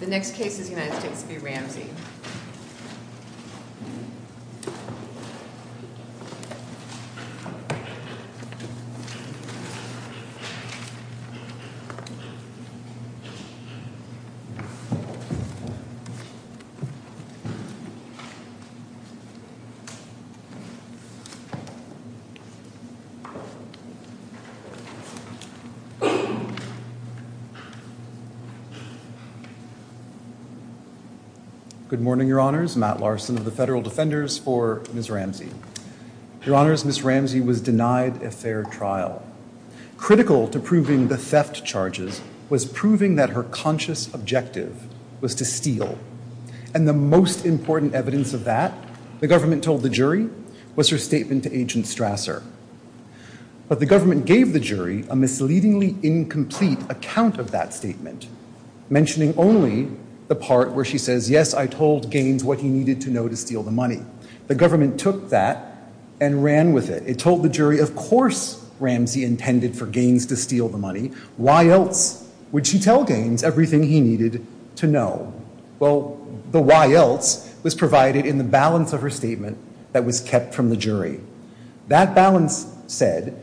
The next case is United States v. Ramsey. Good morning, Your Honors. Matt Larson of the Federal Defenders for Ms. Ramsey. Your Honors, Ms. Ramsey was denied a fair trial. Critical to proving the theft charges was proving that her conscious objective was to steal. And the most important evidence of that, the government told the jury, was her statement to Agent Strasser. But the government gave the jury a misleadingly incomplete account of that statement, mentioning only the part where she says, yes, I told Gaines what he needed to know to steal the money. The government took that and ran with it. It told the jury, of course Ramsey intended for Gaines to steal the money. Why else would she tell Gaines everything he needed to know? Well, the why else was provided in the balance of her statement that was kept from the jury. That balance said,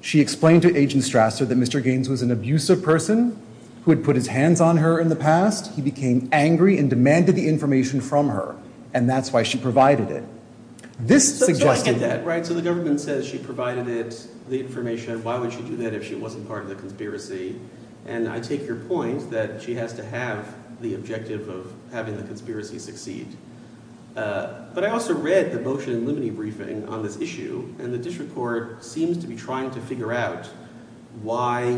she explained to Agent Strasser that Mr. Gaines was an abusive person who had put his hands on her in the past. He became angry and demanded the information from her. And that's why she provided it. So I get that, right? So the government says she provided it, the information. Why would she do that if she wasn't part of the conspiracy? And I take your point that she has to have the objective of having the conspiracy succeed. But I also read the motion in limine briefing on this issue, and the district court seems to be trying to figure out why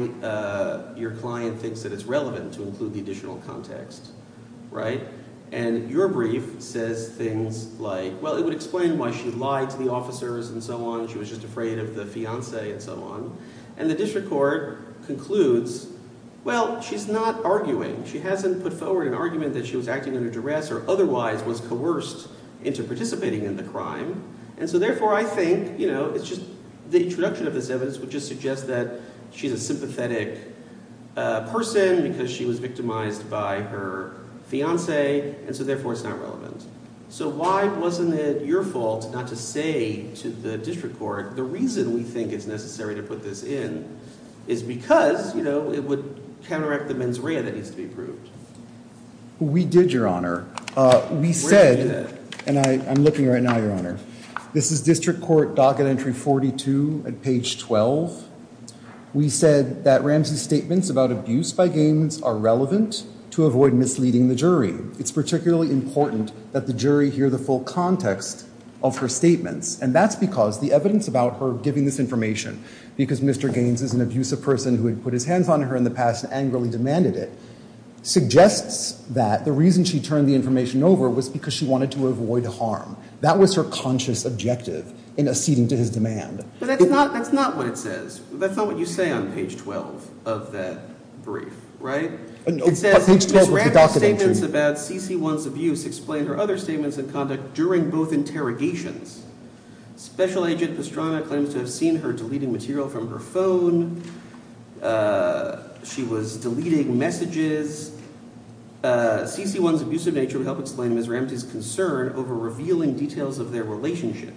your client thinks that it's relevant to include the additional context, right? And your brief says things like, well, it would explain why she lied to the officers and so on. She was just afraid of the fiancé and so on. And the district court concludes, well, she's not arguing. She hasn't put forward an argument that she was acting under duress or otherwise was coerced into participating in the crime. And so therefore I think it's just – the introduction of this evidence would just suggest that she's a sympathetic person because she was victimized by her fiancé, and so therefore it's not relevant. So why wasn't it your fault not to say to the district court the reason we think it's necessary to put this in is because it would counteract the mens rea that needs to be proved? We did, Your Honor. We said – and I'm looking right now, Your Honor. This is district court docket entry 42 at page 12. We said that Ramsey's statements about abuse by games are relevant to avoid misleading the jury. It's particularly important that the jury hear the full context of her statements, and that's because the evidence about her giving this information, because Mr. Gaines is an abusive person who had put his hands on her in the past and angrily demanded it, suggests that the reason she turned the information over was because she wanted to avoid harm. That was her conscious objective in acceding to his demand. But that's not what it says. That's not what you say on page 12 of that brief, right? It says Ms. Ramsey's statements about C.C.1's abuse explain her other statements in conduct during both interrogations. Special Agent Pastrana claims to have seen her deleting material from her phone. She was deleting messages. C.C.1's abusive nature would help explain Ms. Ramsey's concern over revealing details of their relationship.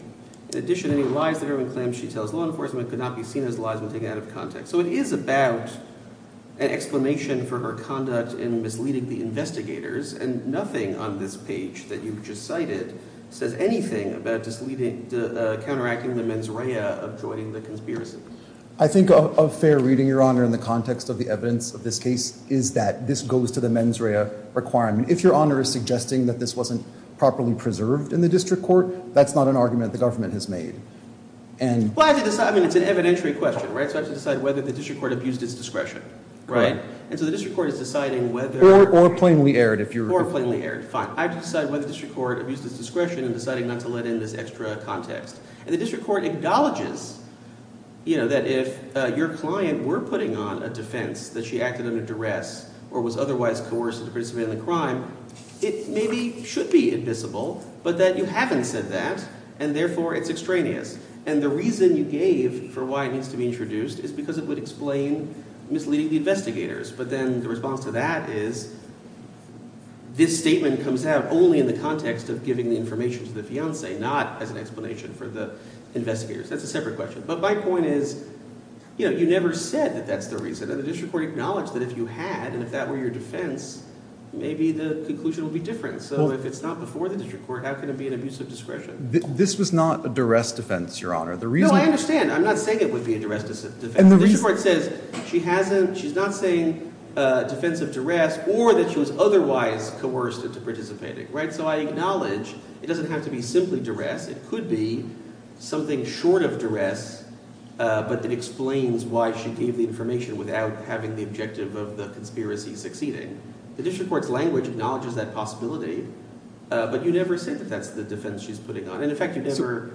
In addition, any lies that are being claimed she tells law enforcement could not be seen as lies when taken out of context. So it is about an explanation for her conduct in misleading the investigators, and nothing on this page that you've just cited says anything about counteracting the mens rea of joining the conspiracy. I think a fair reading, Your Honor, in the context of the evidence of this case is that this goes to the mens rea requirement. If Your Honor is suggesting that this wasn't properly preserved in the district court, that's not an argument the government has made. Well, I have to decide. I mean, it's an evidentiary question, right? So I have to decide whether the district court abused its discretion, right? And so the district court is deciding whether – Or plainly erred if you're – Or plainly erred. Fine. I have to decide whether the district court abused its discretion in deciding not to let in this extra context. And the district court acknowledges that if your client were putting on a defense that she acted under duress or was otherwise coerced to participate in the crime, it maybe should be admissible, but that you haven't said that, and therefore it's extraneous. And the reason you gave for why it needs to be introduced is because it would explain misleading the investigators. But then the response to that is this statement comes out only in the context of giving the information to the fiancé, not as an explanation for the investigators. That's a separate question. But my point is you never said that that's the reason, and the district court acknowledged that if you had and if that were your defense, maybe the conclusion would be different. So if it's not before the district court, how can it be an abuse of discretion? This was not a duress defense, Your Honor. No, I understand. I'm not saying it would be a duress defense. The district court says she hasn't – she's not saying defense of duress or that she was otherwise coerced into participating. So I acknowledge it doesn't have to be simply duress. It could be something short of duress but that explains why she gave the information without having the objective of the conspiracy succeeding. The district court's language acknowledges that possibility, but you never said that that's the defense she's putting on. And, in fact, you never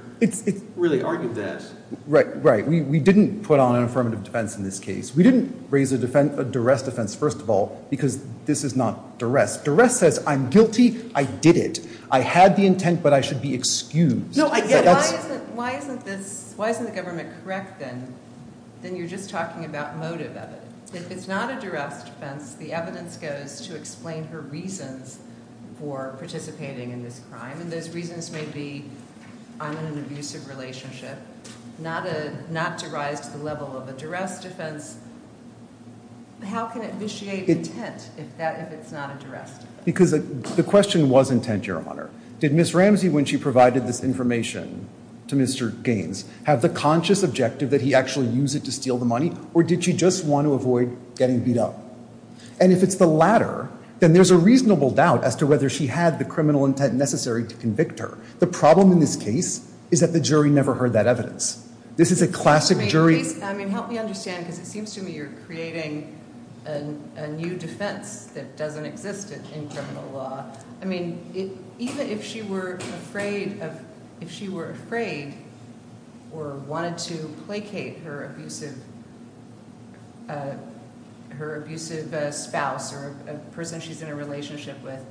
really argued that. Right, right. We didn't put on an affirmative defense in this case. We didn't raise a duress defense, first of all, because this is not duress. Duress says I'm guilty. I did it. I had the intent, but I should be excused. Why isn't this – why isn't the government correct then? Then you're just talking about motive of it. If it's not a duress defense, the evidence goes to explain her reasons for participating in this crime, and those reasons may be I'm in an abusive relationship, not to rise to the level of a duress defense. How can it vitiate intent if it's not a duress defense? Because the question was intent, Your Honor. Did Ms. Ramsey, when she provided this information to Mr. Gaines, have the conscious objective that he actually used it to steal the money or did she just want to avoid getting beat up? And if it's the latter, then there's a reasonable doubt as to whether she had the criminal intent necessary to convict her. The problem in this case is that the jury never heard that evidence. This is a classic jury – I mean, help me understand because it seems to me you're creating a new defense that doesn't exist in criminal law. I mean, even if she were afraid or wanted to placate her abusive spouse or a person she's in a relationship with,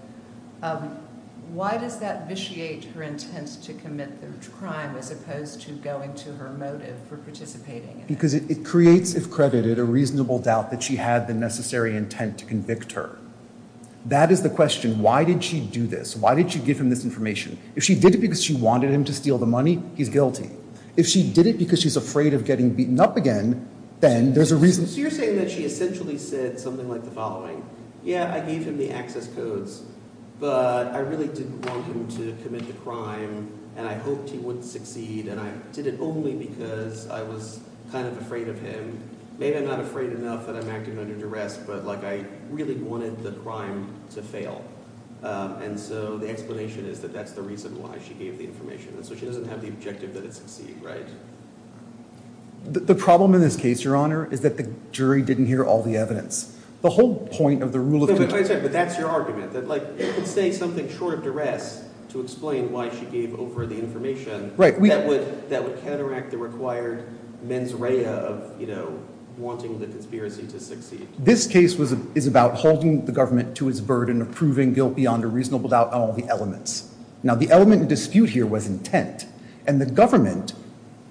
why does that vitiate her intent to commit the crime as opposed to going to her motive for participating in it? Because it creates, if credited, a reasonable doubt that she had the necessary intent to convict her. That is the question. Why did she do this? Why did she give him this information? If she did it because she wanted him to steal the money, he's guilty. If she did it because she's afraid of getting beaten up again, then there's a reason. So you're saying that she essentially said something like the following. Yeah, I gave him the access codes, but I really didn't want him to commit the crime and I hoped he wouldn't succeed and I did it only because I was kind of afraid of him. Maybe I'm not afraid enough that I'm acting under duress, but I really wanted the crime to fail. And so the explanation is that that's the reason why she gave the information, and so she doesn't have the objective that it succeed, right? The problem in this case, Your Honor, is that the jury didn't hear all the evidence. The whole point of the rule of fiduciary… But that's your argument, that if you could say something short of duress to explain why she gave over the information, that would counteract the required mens rea of wanting the conspiracy to succeed. This case is about holding the government to its burden of proving guilt beyond a reasonable doubt on all the elements. Now, the element in dispute here was intent, and the government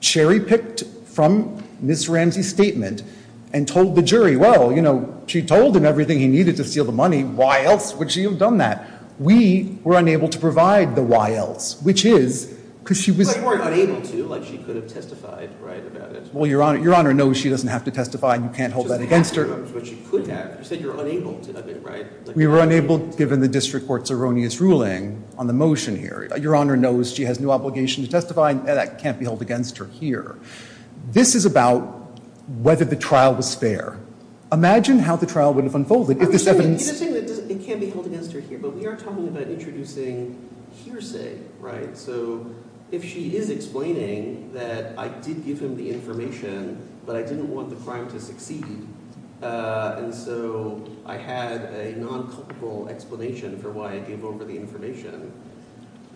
cherry-picked from Ms. Ramsey's statement and told the jury, well, she told him everything he needed to steal the money. Why else would she have done that? We were unable to provide the why else, which is because she was… But you weren't unable to, like she could have testified, right, about it. Well, Your Honor knows she doesn't have to testify, and you can't hold that against her. But you couldn't have. You said you're unable to have it, right? We were unable, given the district court's erroneous ruling on the motion here. Your Honor knows she has no obligation to testify, and that can't be held against her here. This is about whether the trial was fair. Imagine how the trial would have unfolded if this evidence… It can be held against her here, but we are talking about introducing hearsay, right? So if she is explaining that I did give him the information, but I didn't want the crime to succeed, and so I had a non-cultural explanation for why I gave over the information,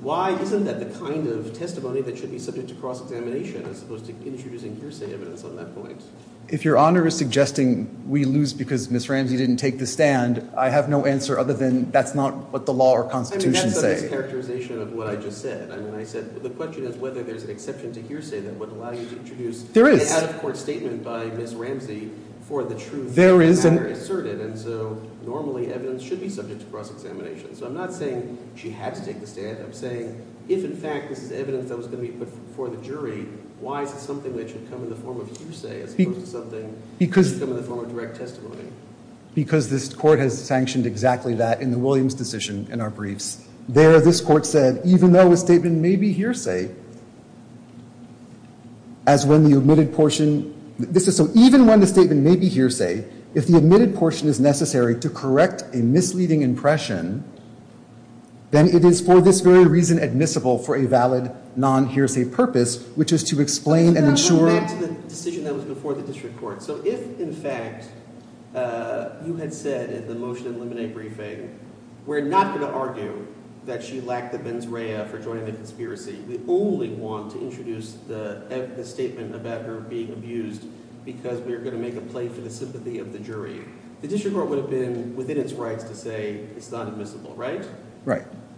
why isn't that the kind of testimony that should be subject to cross-examination as opposed to introducing hearsay evidence on that point? If Your Honor is suggesting we lose because Ms. Ramsey didn't take the stand, I have no answer other than that's not what the law or Constitution say. I mean, that's a mischaracterization of what I just said. I mean, I said the question is whether there's an exception to hearsay that would allow you to introduce… There is. …an out-of-court statement by Ms. Ramsey for the truth… There is. …and have her assert it, and so normally evidence should be subject to cross-examination. So I'm not saying she had to take the stand. I'm saying if, in fact, this is evidence that was going to be put before the jury, why is it something that should come in the form of hearsay as opposed to something… Because… …that should come in the form of direct testimony? Because this Court has sanctioned exactly that in the Williams decision in our briefs. There, this Court said, even though a statement may be hearsay, as when the admitted portion… This is so even when the statement may be hearsay, if the admitted portion is necessary to correct a misleading impression, then it is for this very reason admissible for a valid non-hearsay purpose, which is to explain and ensure… Let's go back to the decision that was before the district court. So if, in fact, you had said in the motion in the Lemonet briefing, we're not going to argue that she lacked the benzeria for joining the conspiracy. We only want to introduce the statement about her being abused because we're going to make a plea for the sympathy of the jury. The district court would have been within its rights to say it's not admissible, right?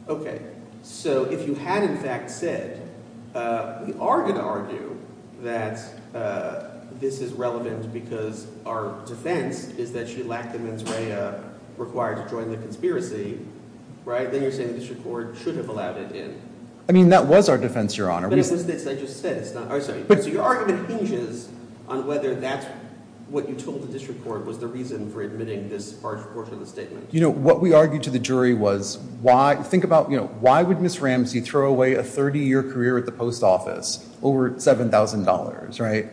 Okay. So if you had, in fact, said we are going to argue that this is relevant because our defense is that she lacked the benzeria required to join the conspiracy, then you're saying the district court should have allowed it in. I mean that was our defense, Your Honor. But it was this I just said. So your argument hinges on whether that's what you told the district court was the reason for admitting this harsh portion of the statement. You know, what we argued to the jury was, think about why would Ms. Ramsey throw away a 30-year career at the post office over $7,000, right?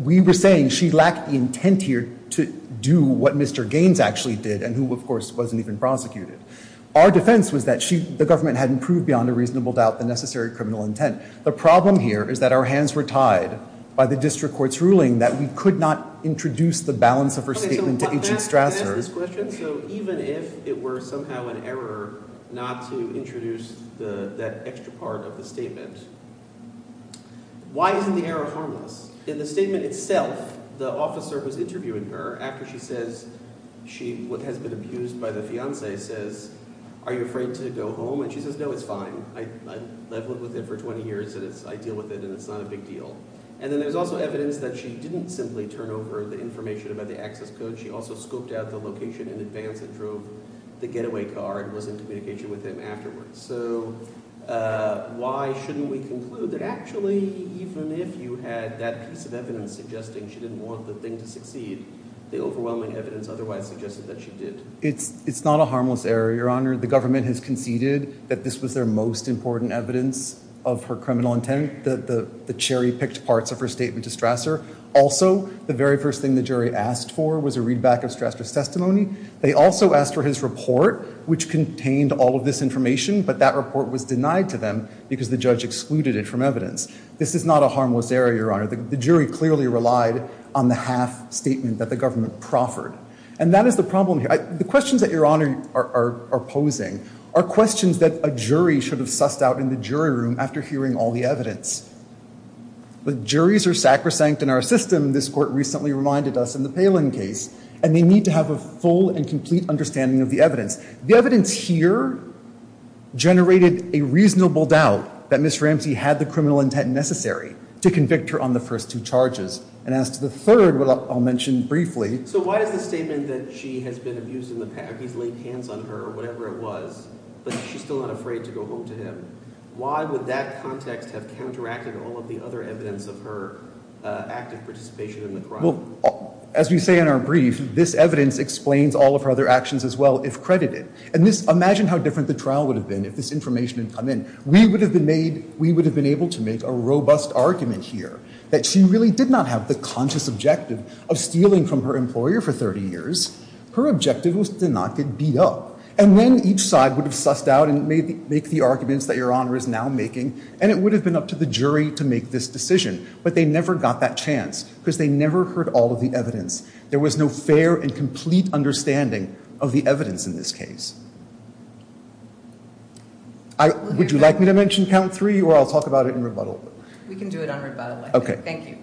We were saying she lacked the intent here to do what Mr. Gaines actually did and who, of course, wasn't even prosecuted. Our defense was that the government hadn't proved beyond a reasonable doubt the necessary criminal intent. The problem here is that our hands were tied by the district court's ruling that we could not introduce the balance of her statement to Agent Strasser. Okay. So can I ask this question? So even if it were somehow an error not to introduce that extra part of the statement, why isn't the error harmless? In the statement itself, the officer was interviewing her after she says she, what has been abused by the fiancé, says, are you afraid to go home? And she says, no, it's fine. I've lived with it for 20 years and I deal with it and it's not a big deal. And then there's also evidence that she didn't simply turn over the information about the access code. She also scoped out the location in advance and drove the getaway car and was in communication with him afterwards. So why shouldn't we conclude that actually even if you had that piece of evidence suggesting she didn't want the thing to succeed, the overwhelming evidence otherwise suggested that she did? It's not a harmless error, Your Honor. The government has conceded that this was their most important evidence of her criminal intent. The cherry picked parts of her statement to Strasser. Also, the very first thing the jury asked for was a readback of Strasser's testimony. They also asked for his report, which contained all of this information, but that report was denied to them because the judge excluded it from evidence. This is not a harmless error, Your Honor. The jury clearly relied on the half statement that the government proffered. And that is the problem here. The questions that Your Honor are posing are questions that a jury should have sussed out in the jury room after hearing all the evidence. When juries are sacrosanct in our system, this court recently reminded us in the Palin case, and they need to have a full and complete understanding of the evidence. The evidence here generated a reasonable doubt that Ms. Ramsey had the criminal intent necessary to convict her on the first two charges. And as to the third, I'll mention briefly. So why does the statement that she has been abused in the past, he's laid hands on her or whatever it was, but she's still not afraid to go home to him, why would that context have counteracted all of the other evidence of her active participation in the crime? As we say in our brief, this evidence explains all of her other actions as well, if credited. And imagine how different the trial would have been if this information had come in. We would have been able to make a robust argument here that she really did not have the conscious objective of stealing from her employer for 30 years. Her objective was to not get beat up. And then each side would have sussed out and made the arguments that Your Honor is now making, and it would have been up to the jury to make this decision. But they never got that chance because they never heard all of the evidence. There was no fair and complete understanding of the evidence in this case. Would you like me to mention count three, or I'll talk about it in rebuttal? We can do it on rebuttal. Okay. Thank you.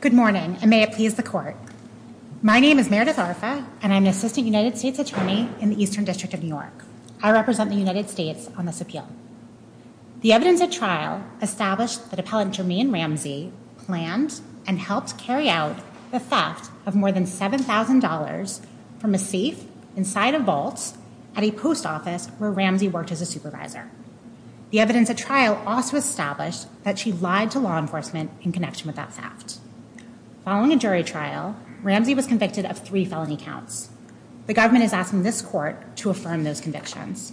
Good morning, and may it please the court. My name is Meredith Arfa, and I'm an Assistant United States Attorney in the Eastern District of New York. I represent the United States on this appeal. The evidence at trial established that Appellant Jermaine Ramsey planned and helped carry out the theft of more than $7,000 from a thief inside a vault at a post office where Ramsey worked as a supervisor. The evidence at trial also established that she lied to law enforcement in connection with that theft. Following a jury trial, Ramsey was convicted of three felony counts. The government is asking this court to affirm those convictions.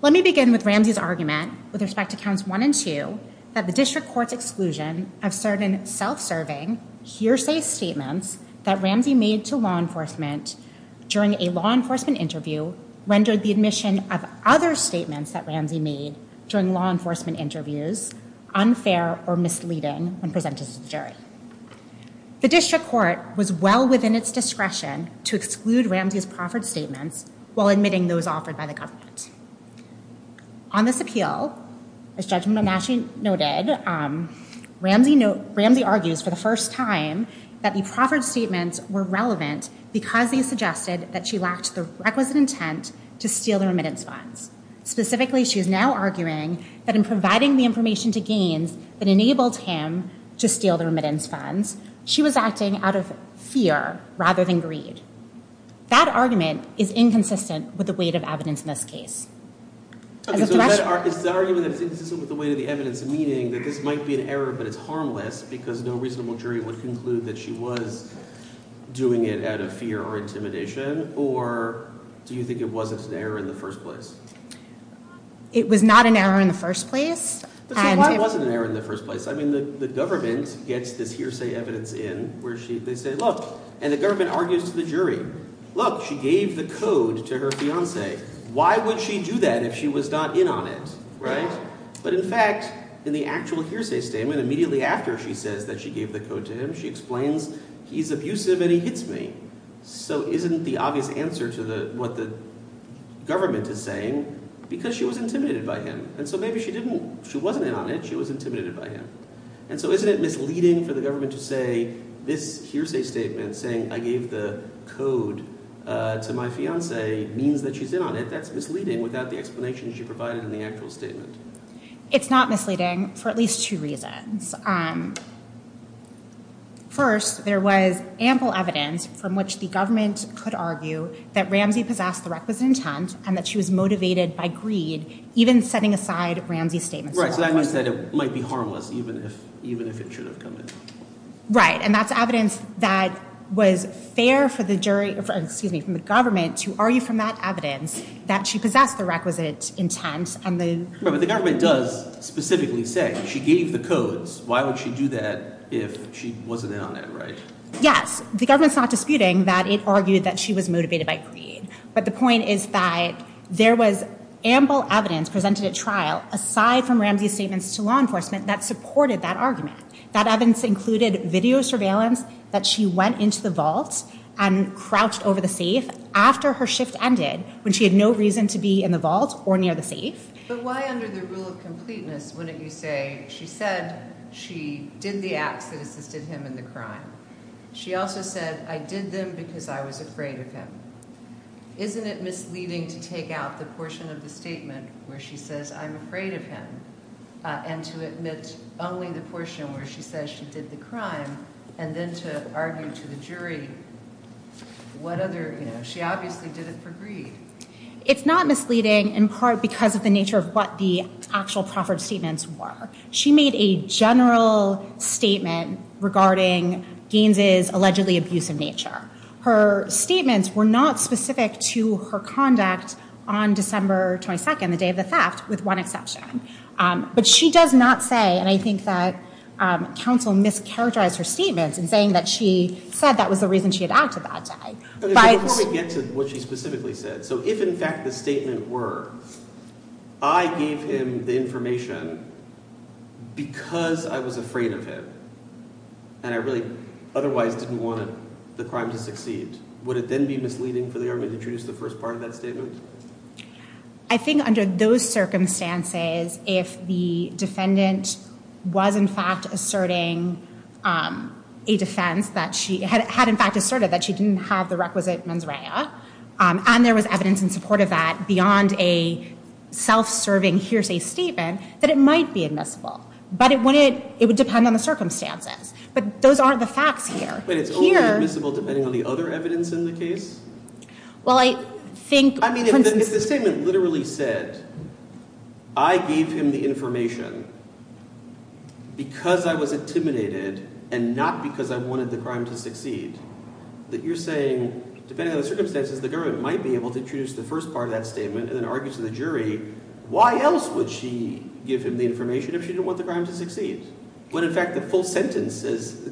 Let me begin with Ramsey's argument with respect to counts one and two that the district court's exclusion of certain self-serving hearsay statements that Ramsey made to law enforcement during a law enforcement interview rendered the admission of other statements that Ramsey made during law enforcement interviews unfair or misleading when presented to the jury. The district court was well within its discretion to exclude Ramsey's proffered statements while admitting those offered by the government. On this appeal, as Judge Monashi noted, Ramsey argues for the first time that the proffered statements were relevant because they suggested that she lacked the requisite intent to steal the remittance funds. Specifically, she is now arguing that in providing the information to Gaines that enabled him to steal the remittance funds, she was acting out of fear rather than greed. That argument is inconsistent with the weight of evidence in this case. Okay, so that argument is inconsistent with the weight of the evidence, meaning that this might be an error but it's harmless because no reasonable jury would conclude that she was doing it out of fear or intimidation, or do you think it was an error in the first place? It was not an error in the first place. So why was it an error in the first place? I mean, the government gets this hearsay evidence in where they say, look, and the government argues to the jury, look, she gave the code to her fiancé. Why would she do that if she was not in on it, right? But in fact, in the actual hearsay statement, immediately after she says that she gave the code to him, she explains he's abusive and he hits me. So isn't the obvious answer to what the government is saying because she was intimidated by him. And so maybe she didn't—she wasn't in on it. She was intimidated by him. And so isn't it misleading for the government to say this hearsay statement, saying I gave the code to my fiancé means that she's in on it. That's misleading without the explanation she provided in the actual statement. It's not misleading for at least two reasons. First, there was ample evidence from which the government could argue that Ramsey possessed the requisite intent and that she was motivated by greed, even setting aside Ramsey's statement. Right, so that means that it might be harmless even if it should have come in. Right, and that's evidence that was fair for the jury— excuse me, for the government to argue from that evidence that she possessed the requisite intent and the— Right, but the government does specifically say she gave the codes. Why would she do that if she wasn't in on it, right? Yes, the government's not disputing that it argued that she was motivated by greed. But the point is that there was ample evidence presented at trial aside from Ramsey's statements to law enforcement that supported that argument. That evidence included video surveillance that she went into the vault and crouched over the safe after her shift ended when she had no reason to be in the vault or near the safe. But why under the rule of completeness wouldn't you say she said she did the acts that assisted him in the crime? She also said, I did them because I was afraid of him. Isn't it misleading to take out the portion of the statement where she says, I'm afraid of him, and to admit only the portion where she says she did the crime, and then to argue to the jury what other—you know, she obviously did it for greed. It's not misleading in part because of the nature of what the actual proffered statements were. She made a general statement regarding Gaines's allegedly abusive nature. Her statements were not specific to her conduct on December 22nd, the day of the theft, with one exception. But she does not say, and I think that counsel mischaracterized her statements in saying that she said that was the reason she had acted that day. Before we get to what she specifically said, so if in fact the statement were, I gave him the information because I was afraid of him, and I really otherwise didn't want the crime to succeed, would it then be misleading for the argument to introduce the first part of that statement? I think under those circumstances, if the defendant was in fact asserting a defense, had in fact asserted that she didn't have the requisite mens rea, and there was evidence in support of that beyond a self-serving hearsay statement, that it might be admissible, but it would depend on the circumstances. But those aren't the facts here. But it's only admissible depending on the other evidence in the case? Well, I think… I mean, if the statement literally said, I gave him the information because I was intimidated and not because I wanted the crime to succeed, that you're saying, depending on the circumstances, the government might be able to introduce the first part of that statement and then argue to the jury, why else would she give him the information if she didn't want the crime to succeed, when in fact the full sentence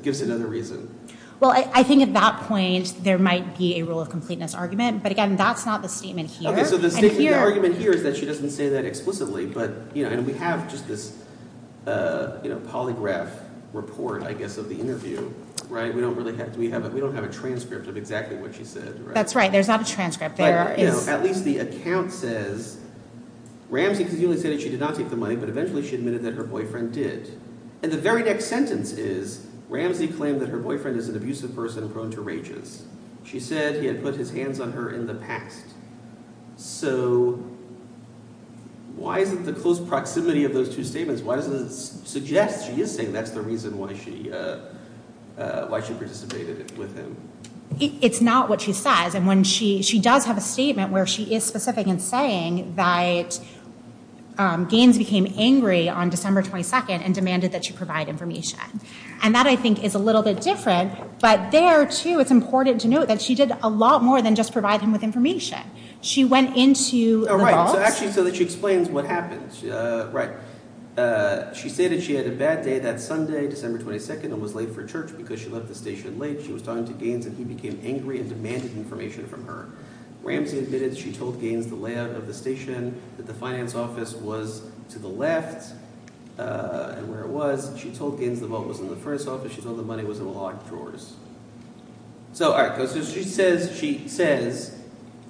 gives another reason? Well, I think at that point there might be a rule of completeness argument, but again, that's not the statement here. Okay, so the argument here is that she doesn't say that explicitly, and we have just this polygraph report, I guess, of the interview. We don't have a transcript of exactly what she said. That's right. There's not a transcript. But, you know, at least the account says, Ramsey conveniently stated she did not take the money, but eventually she admitted that her boyfriend did. And the very next sentence is, Ramsey claimed that her boyfriend is an abusive person prone to rages. She said he had put his hands on her in the past. So why isn't the close proximity of those two statements, why doesn't it suggest she is saying that's the reason why she participated with him? It's not what she says. And she does have a statement where she is specific in saying that Gaines became angry on December 22nd and demanded that she provide information. And that, I think, is a little bit different, but there, too, it's important to note that she did a lot more than just provide him with information. She went into the box. Oh, right, so actually so that she explains what happened. Right. She said that she had a bad day that Sunday, December 22nd, and was late for church because she left the station late. She was talking to Gaines, and he became angry and demanded information from her. Ramsey admitted that she told Gaines the layout of the station, that the finance office was to the left and where it was. She told Gaines the vault was in the furnace office. She told him the money was in the locked drawers. So all right, so she says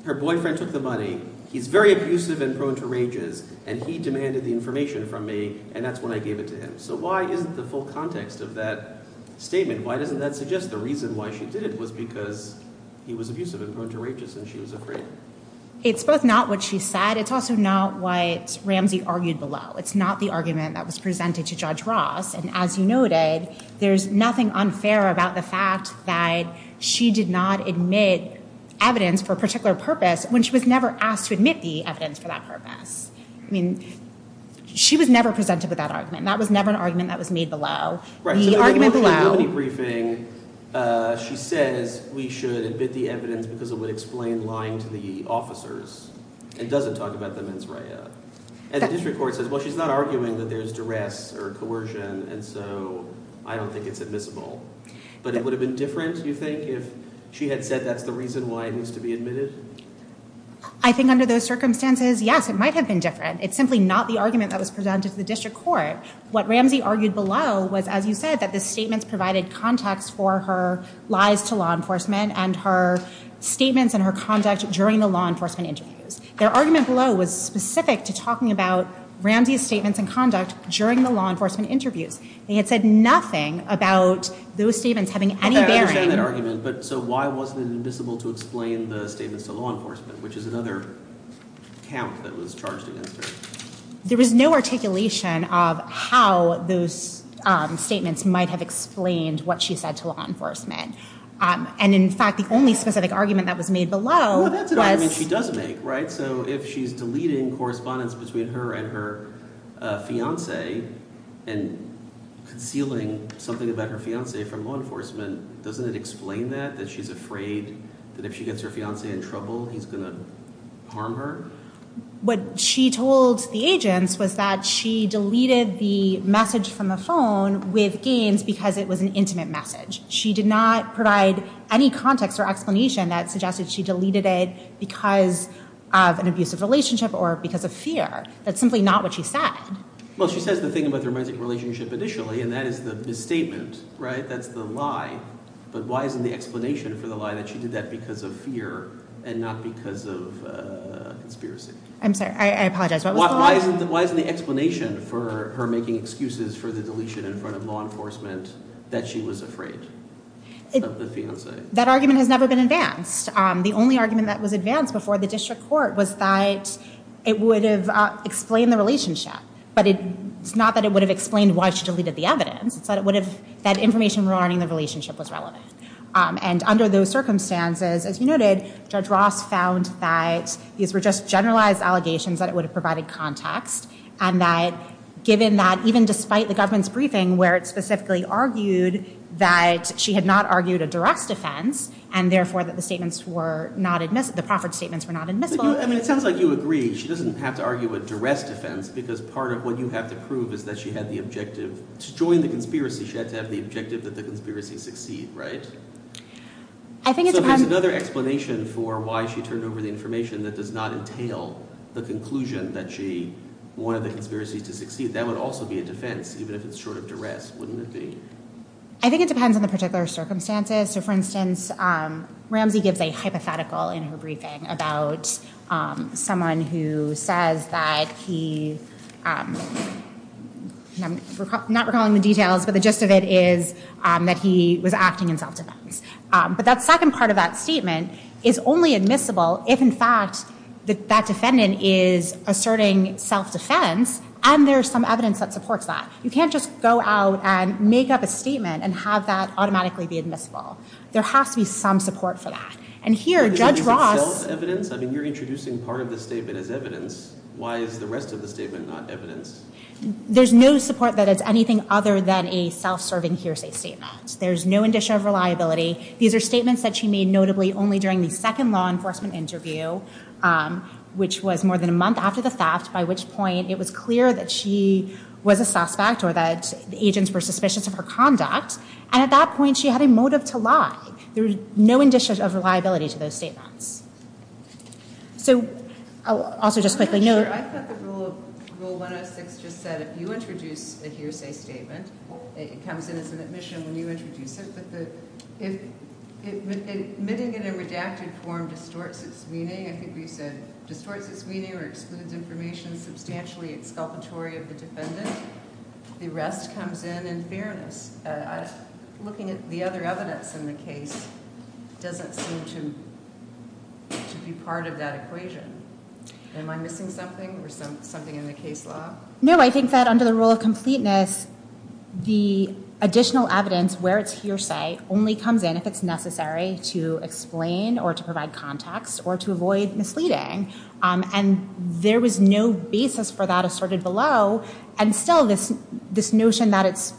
her boyfriend took the money. He's very abusive and prone to rages, and he demanded the information from me, and that's when I gave it to him. So why isn't the full context of that statement? Why doesn't that suggest the reason why she did it was because he was abusive and prone to rages and she was afraid? It's both not what she said. It's also not what Ramsey argued below. It's not the argument that was presented to Judge Ross, and as you noted, there's nothing unfair about the fact that she did not admit evidence for a particular purpose when she was never asked to admit the evidence for that purpose. I mean, she was never presented with that argument. That was never an argument that was made below. Right. The argument below. In the committee briefing, she says we should admit the evidence because it would explain lying to the officers. It doesn't talk about the mens rea. And the district court says, well, she's not arguing that there's duress or coercion, and so I don't think it's admissible. But it would have been different, you think, if she had said that's the reason why it needs to be admitted? I think under those circumstances, yes, it might have been different. It's simply not the argument that was presented to the district court. What Ramsey argued below was, as you said, that the statements provided context for her lies to law enforcement and her statements and her conduct during the law enforcement interviews. Their argument below was specific to talking about Ramsey's statements and conduct during the law enforcement interviews. They had said nothing about those statements having any bearing. I understand that argument, but so why wasn't it admissible to explain the statements to law enforcement, which is another count that was charged against her? There was no articulation of how those statements might have explained what she said to law enforcement. And, in fact, the only specific argument that was made below was— Well, that's an argument she does make, right? So if she's deleting correspondence between her and her fiancé and concealing something about her fiancé from law enforcement, doesn't it explain that, that she's afraid that if she gets her fiancé in trouble, he's going to harm her? What she told the agents was that she deleted the message from the phone with gains because it was an intimate message. She did not provide any context or explanation that suggested she deleted it because of an abusive relationship or because of fear. That's simply not what she said. Well, she says the thing about the romantic relationship initially, and that is the misstatement, right? That's the lie. But why isn't the explanation for the lie that she did that because of fear and not because of conspiracy? I'm sorry. I apologize. Why isn't the explanation for her making excuses for the deletion in front of law enforcement that she was afraid of the fiancé? That argument has never been advanced. The only argument that was advanced before the district court was that it would have explained the relationship, but it's not that it would have explained why she deleted the evidence. It's that it would have—that information regarding the relationship was relevant. And under those circumstances, as you noted, Judge Ross found that these were just generalized allegations that it would have provided context, and that given that even despite the government's briefing where it specifically argued that she had not argued a duress defense and, therefore, that the statements were not— the proffered statements were not admissible— I mean, it sounds like you agree. She doesn't have to argue a duress defense because part of what you have to prove is that she had the objective to join the conspiracy. She had to have the objective that the conspiracy succeed, right? So there's another explanation for why she turned over the information that does not entail the conclusion that she wanted the conspiracy to succeed. That would also be a defense, even if it's short of duress, wouldn't it be? I think it depends on the particular circumstances. So, for instance, Ramsey gives a hypothetical in her briefing about someone who says that he— I'm not recalling the details, but the gist of it is that he was acting in self-defense. But that second part of that statement is only admissible if, in fact, that defendant is asserting self-defense and there's some evidence that supports that. You can't just go out and make up a statement and have that automatically be admissible. There has to be some support for that. And here, Judge Ross— Is it self-evidence? I mean, you're introducing part of the statement as evidence. Why is the rest of the statement not evidence? There's no support that it's anything other than a self-serving hearsay statement. There's no indicia of reliability. These are statements that she made, notably, only during the second law enforcement interview, which was more than a month after the theft, by which point it was clear that she was a suspect or that the agents were suspicious of her conduct. And at that point, she had a motive to lie. There's no indicia of reliability to those statements. So, I'll also just quickly note— I think it's just said, if you introduce a hearsay statement, it comes in as an admission when you introduce it, but admitting it in redacted form distorts its meaning. I think we've said it distorts its meaning or excludes information substantially exculpatory of the defendant. The rest comes in in fairness. Looking at the other evidence in the case doesn't seem to be part of that equation. Am I missing something or something in the case law? No, I think that under the rule of completeness, the additional evidence, where it's hearsay, only comes in if it's necessary to explain or to provide context or to avoid misleading. And there was no basis for that assorted below. And still, this notion that it's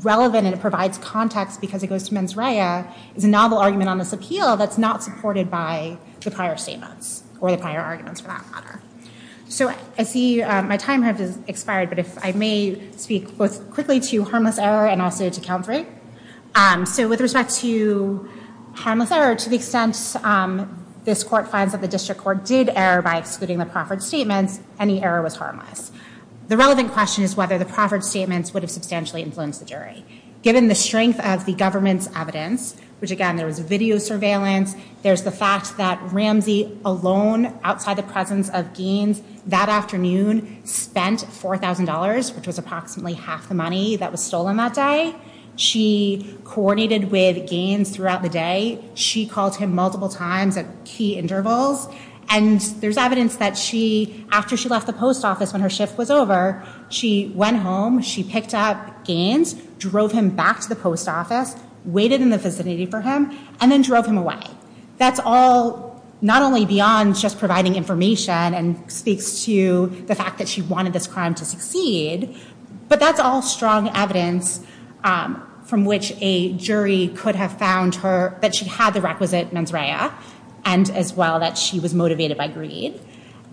relevant and it provides context because it goes to mens rea is a novel argument on this appeal that's not supported by the prior statements or the prior arguments, for that matter. So, I see my time has expired, but if I may speak both quickly to harmless error and also to count three. So, with respect to harmless error, to the extent this court finds that the district court did err by excluding the proffered statements, any error was harmless. The relevant question is whether the proffered statements would have substantially influenced the jury. Given the strength of the government's evidence, which, again, there was video surveillance, there's the fact that Ramsey alone, outside the presence of Gaines, that afternoon spent $4,000, which was approximately half the money that was stolen that day. She coordinated with Gaines throughout the day. She called him multiple times at key intervals. And there's evidence that she, after she left the post office when her shift was over, she went home, she picked up Gaines, drove him back to the post office, waited in the vicinity for him, and then drove him away. That's all not only beyond just providing information and speaks to the fact that she wanted this crime to succeed, but that's all strong evidence from which a jury could have found that she had the requisite mens rea and, as well, that she was motivated by greed.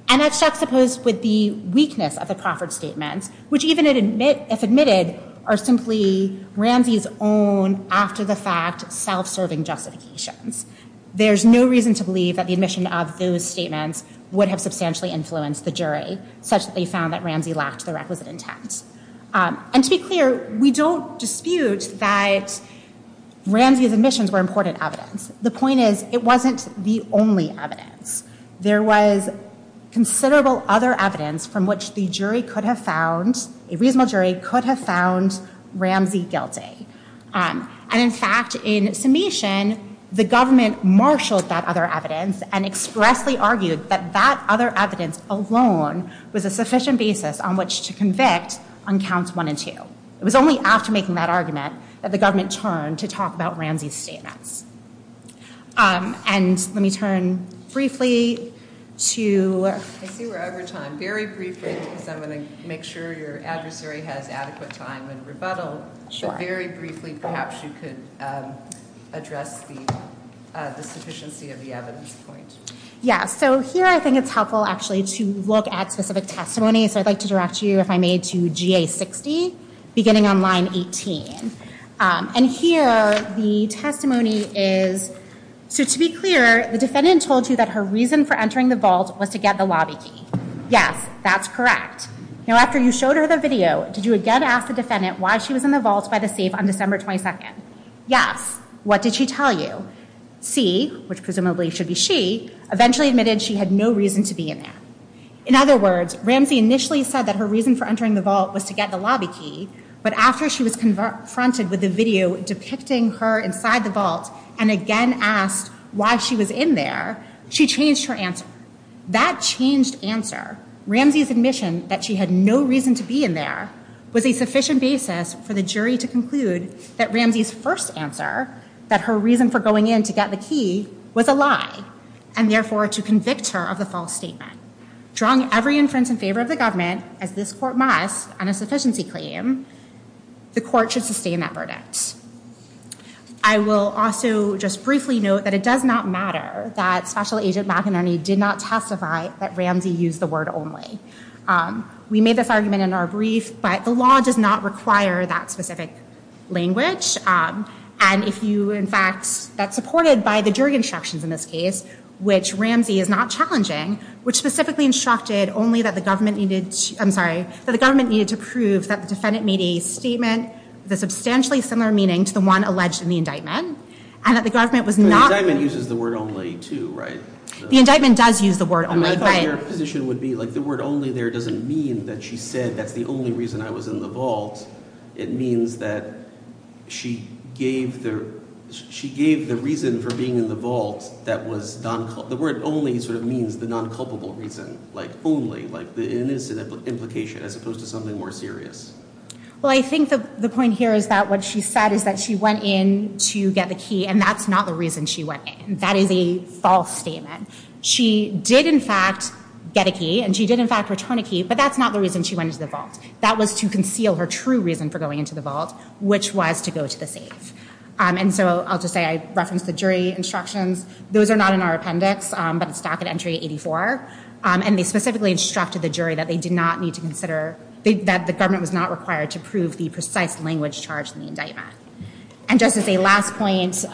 And that's juxtaposed with the weakness of the proffered statements, which, even if admitted, are simply Ramsey's own, after-the-fact, self-serving justifications. There's no reason to believe that the admission of those statements would have substantially influenced the jury, such that they found that Ramsey lacked the requisite intent. And, to be clear, we don't dispute that Ramsey's admissions were important evidence. The point is, it wasn't the only evidence. There was considerable other evidence from which a reasonable jury could have found Ramsey guilty. And, in fact, in summation, the government marshaled that other evidence and expressly argued that that other evidence alone was a sufficient basis on which to convict on counts one and two. It was only after making that argument that the government turned to talk about Ramsey's statements. And let me turn briefly to... I see we're over time. Very briefly, because I'm going to make sure your adversary has adequate time and rebuttal. Sure. Very briefly, perhaps you could address the sufficiency of the evidence point. Yeah, so here I think it's helpful, actually, to look at specific testimony. So I'd like to direct you, if I may, to GA-60, beginning on line 18. And here the testimony is... So, to be clear, the defendant told you that her reason for entering the vault was to get the lobby key. Yes, that's correct. Now, after you showed her the video, did you again ask the defendant why she was in the vault by the safe on December 22nd? Yes. What did she tell you? C, which presumably should be she, eventually admitted she had no reason to be in there. In other words, Ramsey initially said that her reason for entering the vault was to get the lobby key, but after she was confronted with the video depicting her inside the vault and again asked why she was in there, she changed her answer. That changed answer, Ramsey's admission that she had no reason to be in there, was a sufficient basis for the jury to conclude that Ramsey's first answer, that her reason for going in to get the key, was a lie, and therefore to convict her of the false statement. Drawing every inference in favor of the government, as this court must on a sufficiency claim, the court should sustain that verdict. I will also just briefly note that it does not matter that Special Agent McInerney did not testify that Ramsey used the word only. We made this argument in our brief, but the law does not require that specific language. And if you, in fact, that's supported by the jury instructions in this case, which Ramsey is not challenging, which specifically instructed only that the government needed to, I'm sorry, that the government needed to prove that the defendant made a statement with a substantially similar meaning to the one alleged in the indictment, and that the government was not, The indictment uses the word only too, right? The indictment does use the word only. My position would be like the word only there doesn't mean that she said that's the only reason I was in the vault. It means that she gave the reason for being in the vault that was, the word only sort of means the non-culpable reason, like only, like the innocent implication, as opposed to something more serious. Well, I think that the point here is that what she said is that she went in to get the key, and that's not the reason she went in. That is a false statement. She did, in fact, get a key, and she did, in fact, return a key, but that's not the reason she went into the vault. That was to conceal her true reason for going into the vault, which was to go to the safe. And so I'll just say I referenced the jury instructions. Those are not in our appendix, but it's docket entry 84, and they specifically instructed the jury that they did not need to consider, that the government was not required to prove the precise language charged in the indictment. And just as a last point,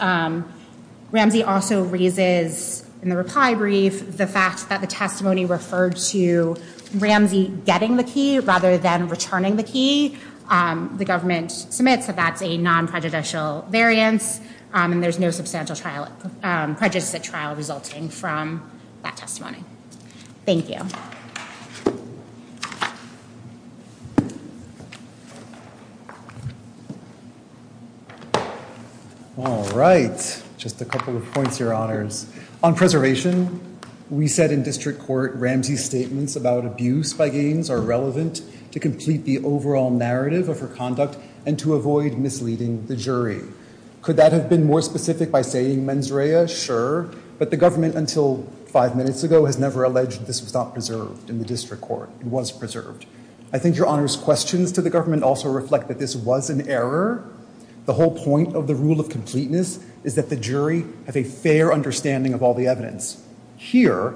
Ramsey also raises, in the reply brief, the fact that the testimony referred to Ramsey getting the key rather than returning the key. The government submits that that's a non-prejudicial variance, and there's no substantial trial, prejudiced trial resulting from that testimony. Thank you. All right. Just a couple of points, Your Honors. On preservation, we said in district court Ramsey's statements about abuse by Gaines are relevant to complete the overall narrative of her conduct and to avoid misleading the jury. Could that have been more specific by saying mens rea? Sure. But the government, until five minutes ago, has never alleged this was not preserved in the district court. It was preserved. I think Your Honor's questions to the government also reflect that this was an error. The whole point of the rule of completeness is that the jury have a fair understanding of all the evidence. Here,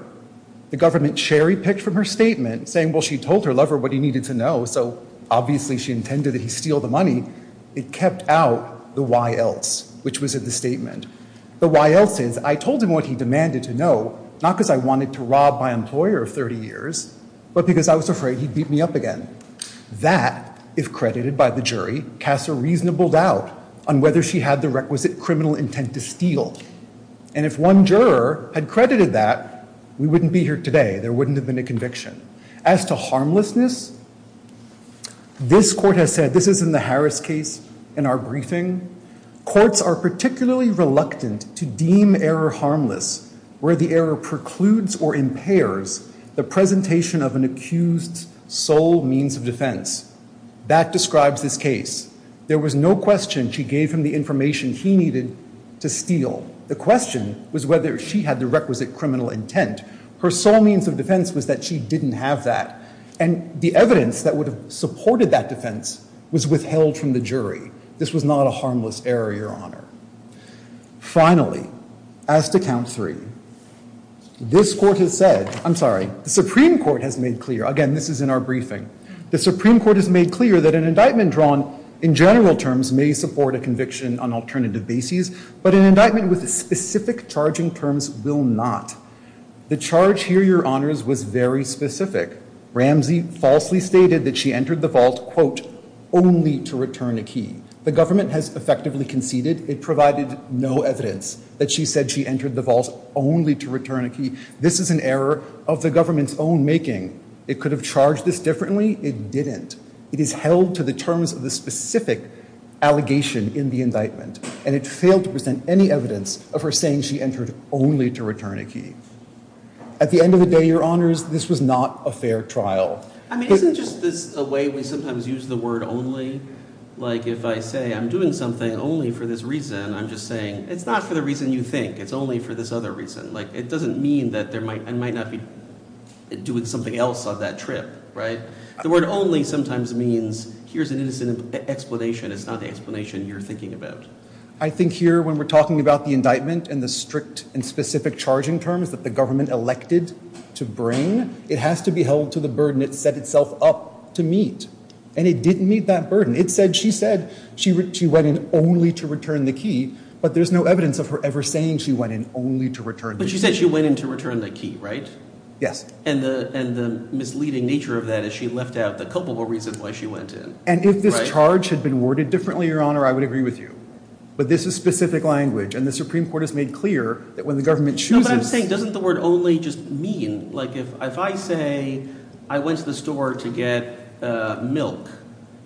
the government cherry picked from her statement, saying, well, she told her lover what he needed to know, so obviously she intended that he steal the money. It kept out the why else, which was in the statement. The why else is, I told him what he demanded to know, not because I wanted to rob my employer of 30 years, but because I was afraid he'd beat me up again. That, if credited by the jury, casts a reasonable doubt on whether she had the requisite criminal intent to steal. And if one juror had credited that, we wouldn't be here today. There wouldn't have been a conviction. As to harmlessness, this court has said, this is in the Harris case, in our briefing, courts are particularly reluctant to deem error harmless where the error precludes or impairs the presentation of an accused's sole means of defense. That describes this case. There was no question she gave him the information he needed to steal. The question was whether she had the requisite criminal intent. Her sole means of defense was that she didn't have that. And the evidence that would have supported that defense was withheld from the jury. This was not a harmless error, Your Honor. Finally, as to count three, this court has said, I'm sorry, the Supreme Court has made clear, again, this is in our briefing, the Supreme Court has made clear that an indictment drawn in general terms may support a conviction on alternative bases, but an indictment with specific charging terms will not. The charge here, Your Honors, was very specific. Ramsey falsely stated that she entered the vault, quote, only to return a key. The government has effectively conceded it provided no evidence that she said she entered the vault only to return a key. This is an error of the government's own making. It could have charged this differently. It didn't. It is held to the terms of the specific allegation in the indictment, and it failed to present any evidence of her saying she entered only to return a key. At the end of the day, Your Honors, this was not a fair trial. I mean, isn't just this a way we sometimes use the word only? Like, if I say I'm doing something only for this reason, I'm just saying, it's not for the reason you think. It's only for this other reason. Like, it doesn't mean that there might, and might not be doing something else on that trip, right? The word only sometimes means, here's an innocent explanation. It's not the explanation you're thinking about. I think here, when we're talking about the indictment and the strict and specific charging terms that the government elected to bring, it has to be held to the burden it set itself up to meet. And it didn't meet that burden. It said she said she went in only to return the key, but there's no evidence of her ever saying she went in only to return the key. But she said she went in to return the key, right? Yes. And the misleading nature of that is she left out the culpable reason why she went in. And if this charge had been worded differently, Your Honor, I would agree with you. But this is specific language, and the Supreme Court has made clear that when the government chooses No, but I'm saying, doesn't the word only just mean, like, if I say I went to the store to get milk,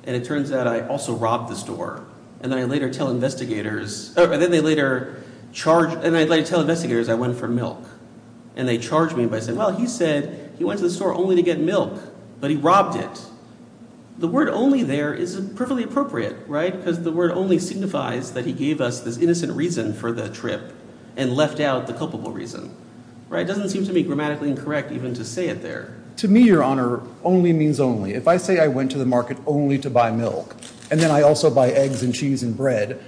and it turns out I also robbed the store, and then I later tell investigators, and I later tell investigators I went for milk, and they charge me by saying, well, he said he went to the store only to get milk, but he robbed it. The word only there is perfectly appropriate, right? Because the word only signifies that he gave us this innocent reason for the trip and left out the culpable reason, right? It doesn't seem to me grammatically incorrect even to say it there. To me, Your Honor, only means only. If I say I went to the market only to buy milk, and then I also buy eggs and cheese and bread,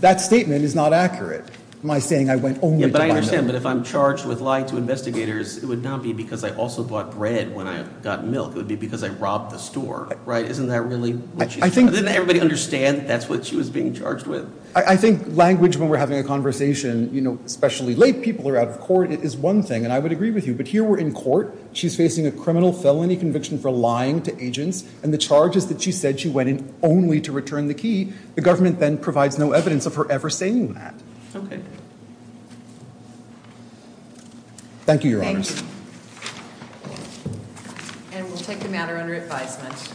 that statement is not accurate. Am I saying I went only to buy milk? Yeah, but I understand. But if I'm charged with lying to investigators, it would not be because I also bought bread when I got milk. It would be because I robbed the store, right? Isn't that really what she said? Didn't everybody understand that's what she was being charged with? I think language when we're having a conversation, you know, especially late, people are out of court, it is one thing, and I would agree with you. But here we're in court. She's facing a criminal felony conviction for lying to agents, and the charges that she said she went in only to return the key, the government then provides no evidence of her ever saying that. Thank you, Your Honors. Thank you. And we'll take the matter under advisement.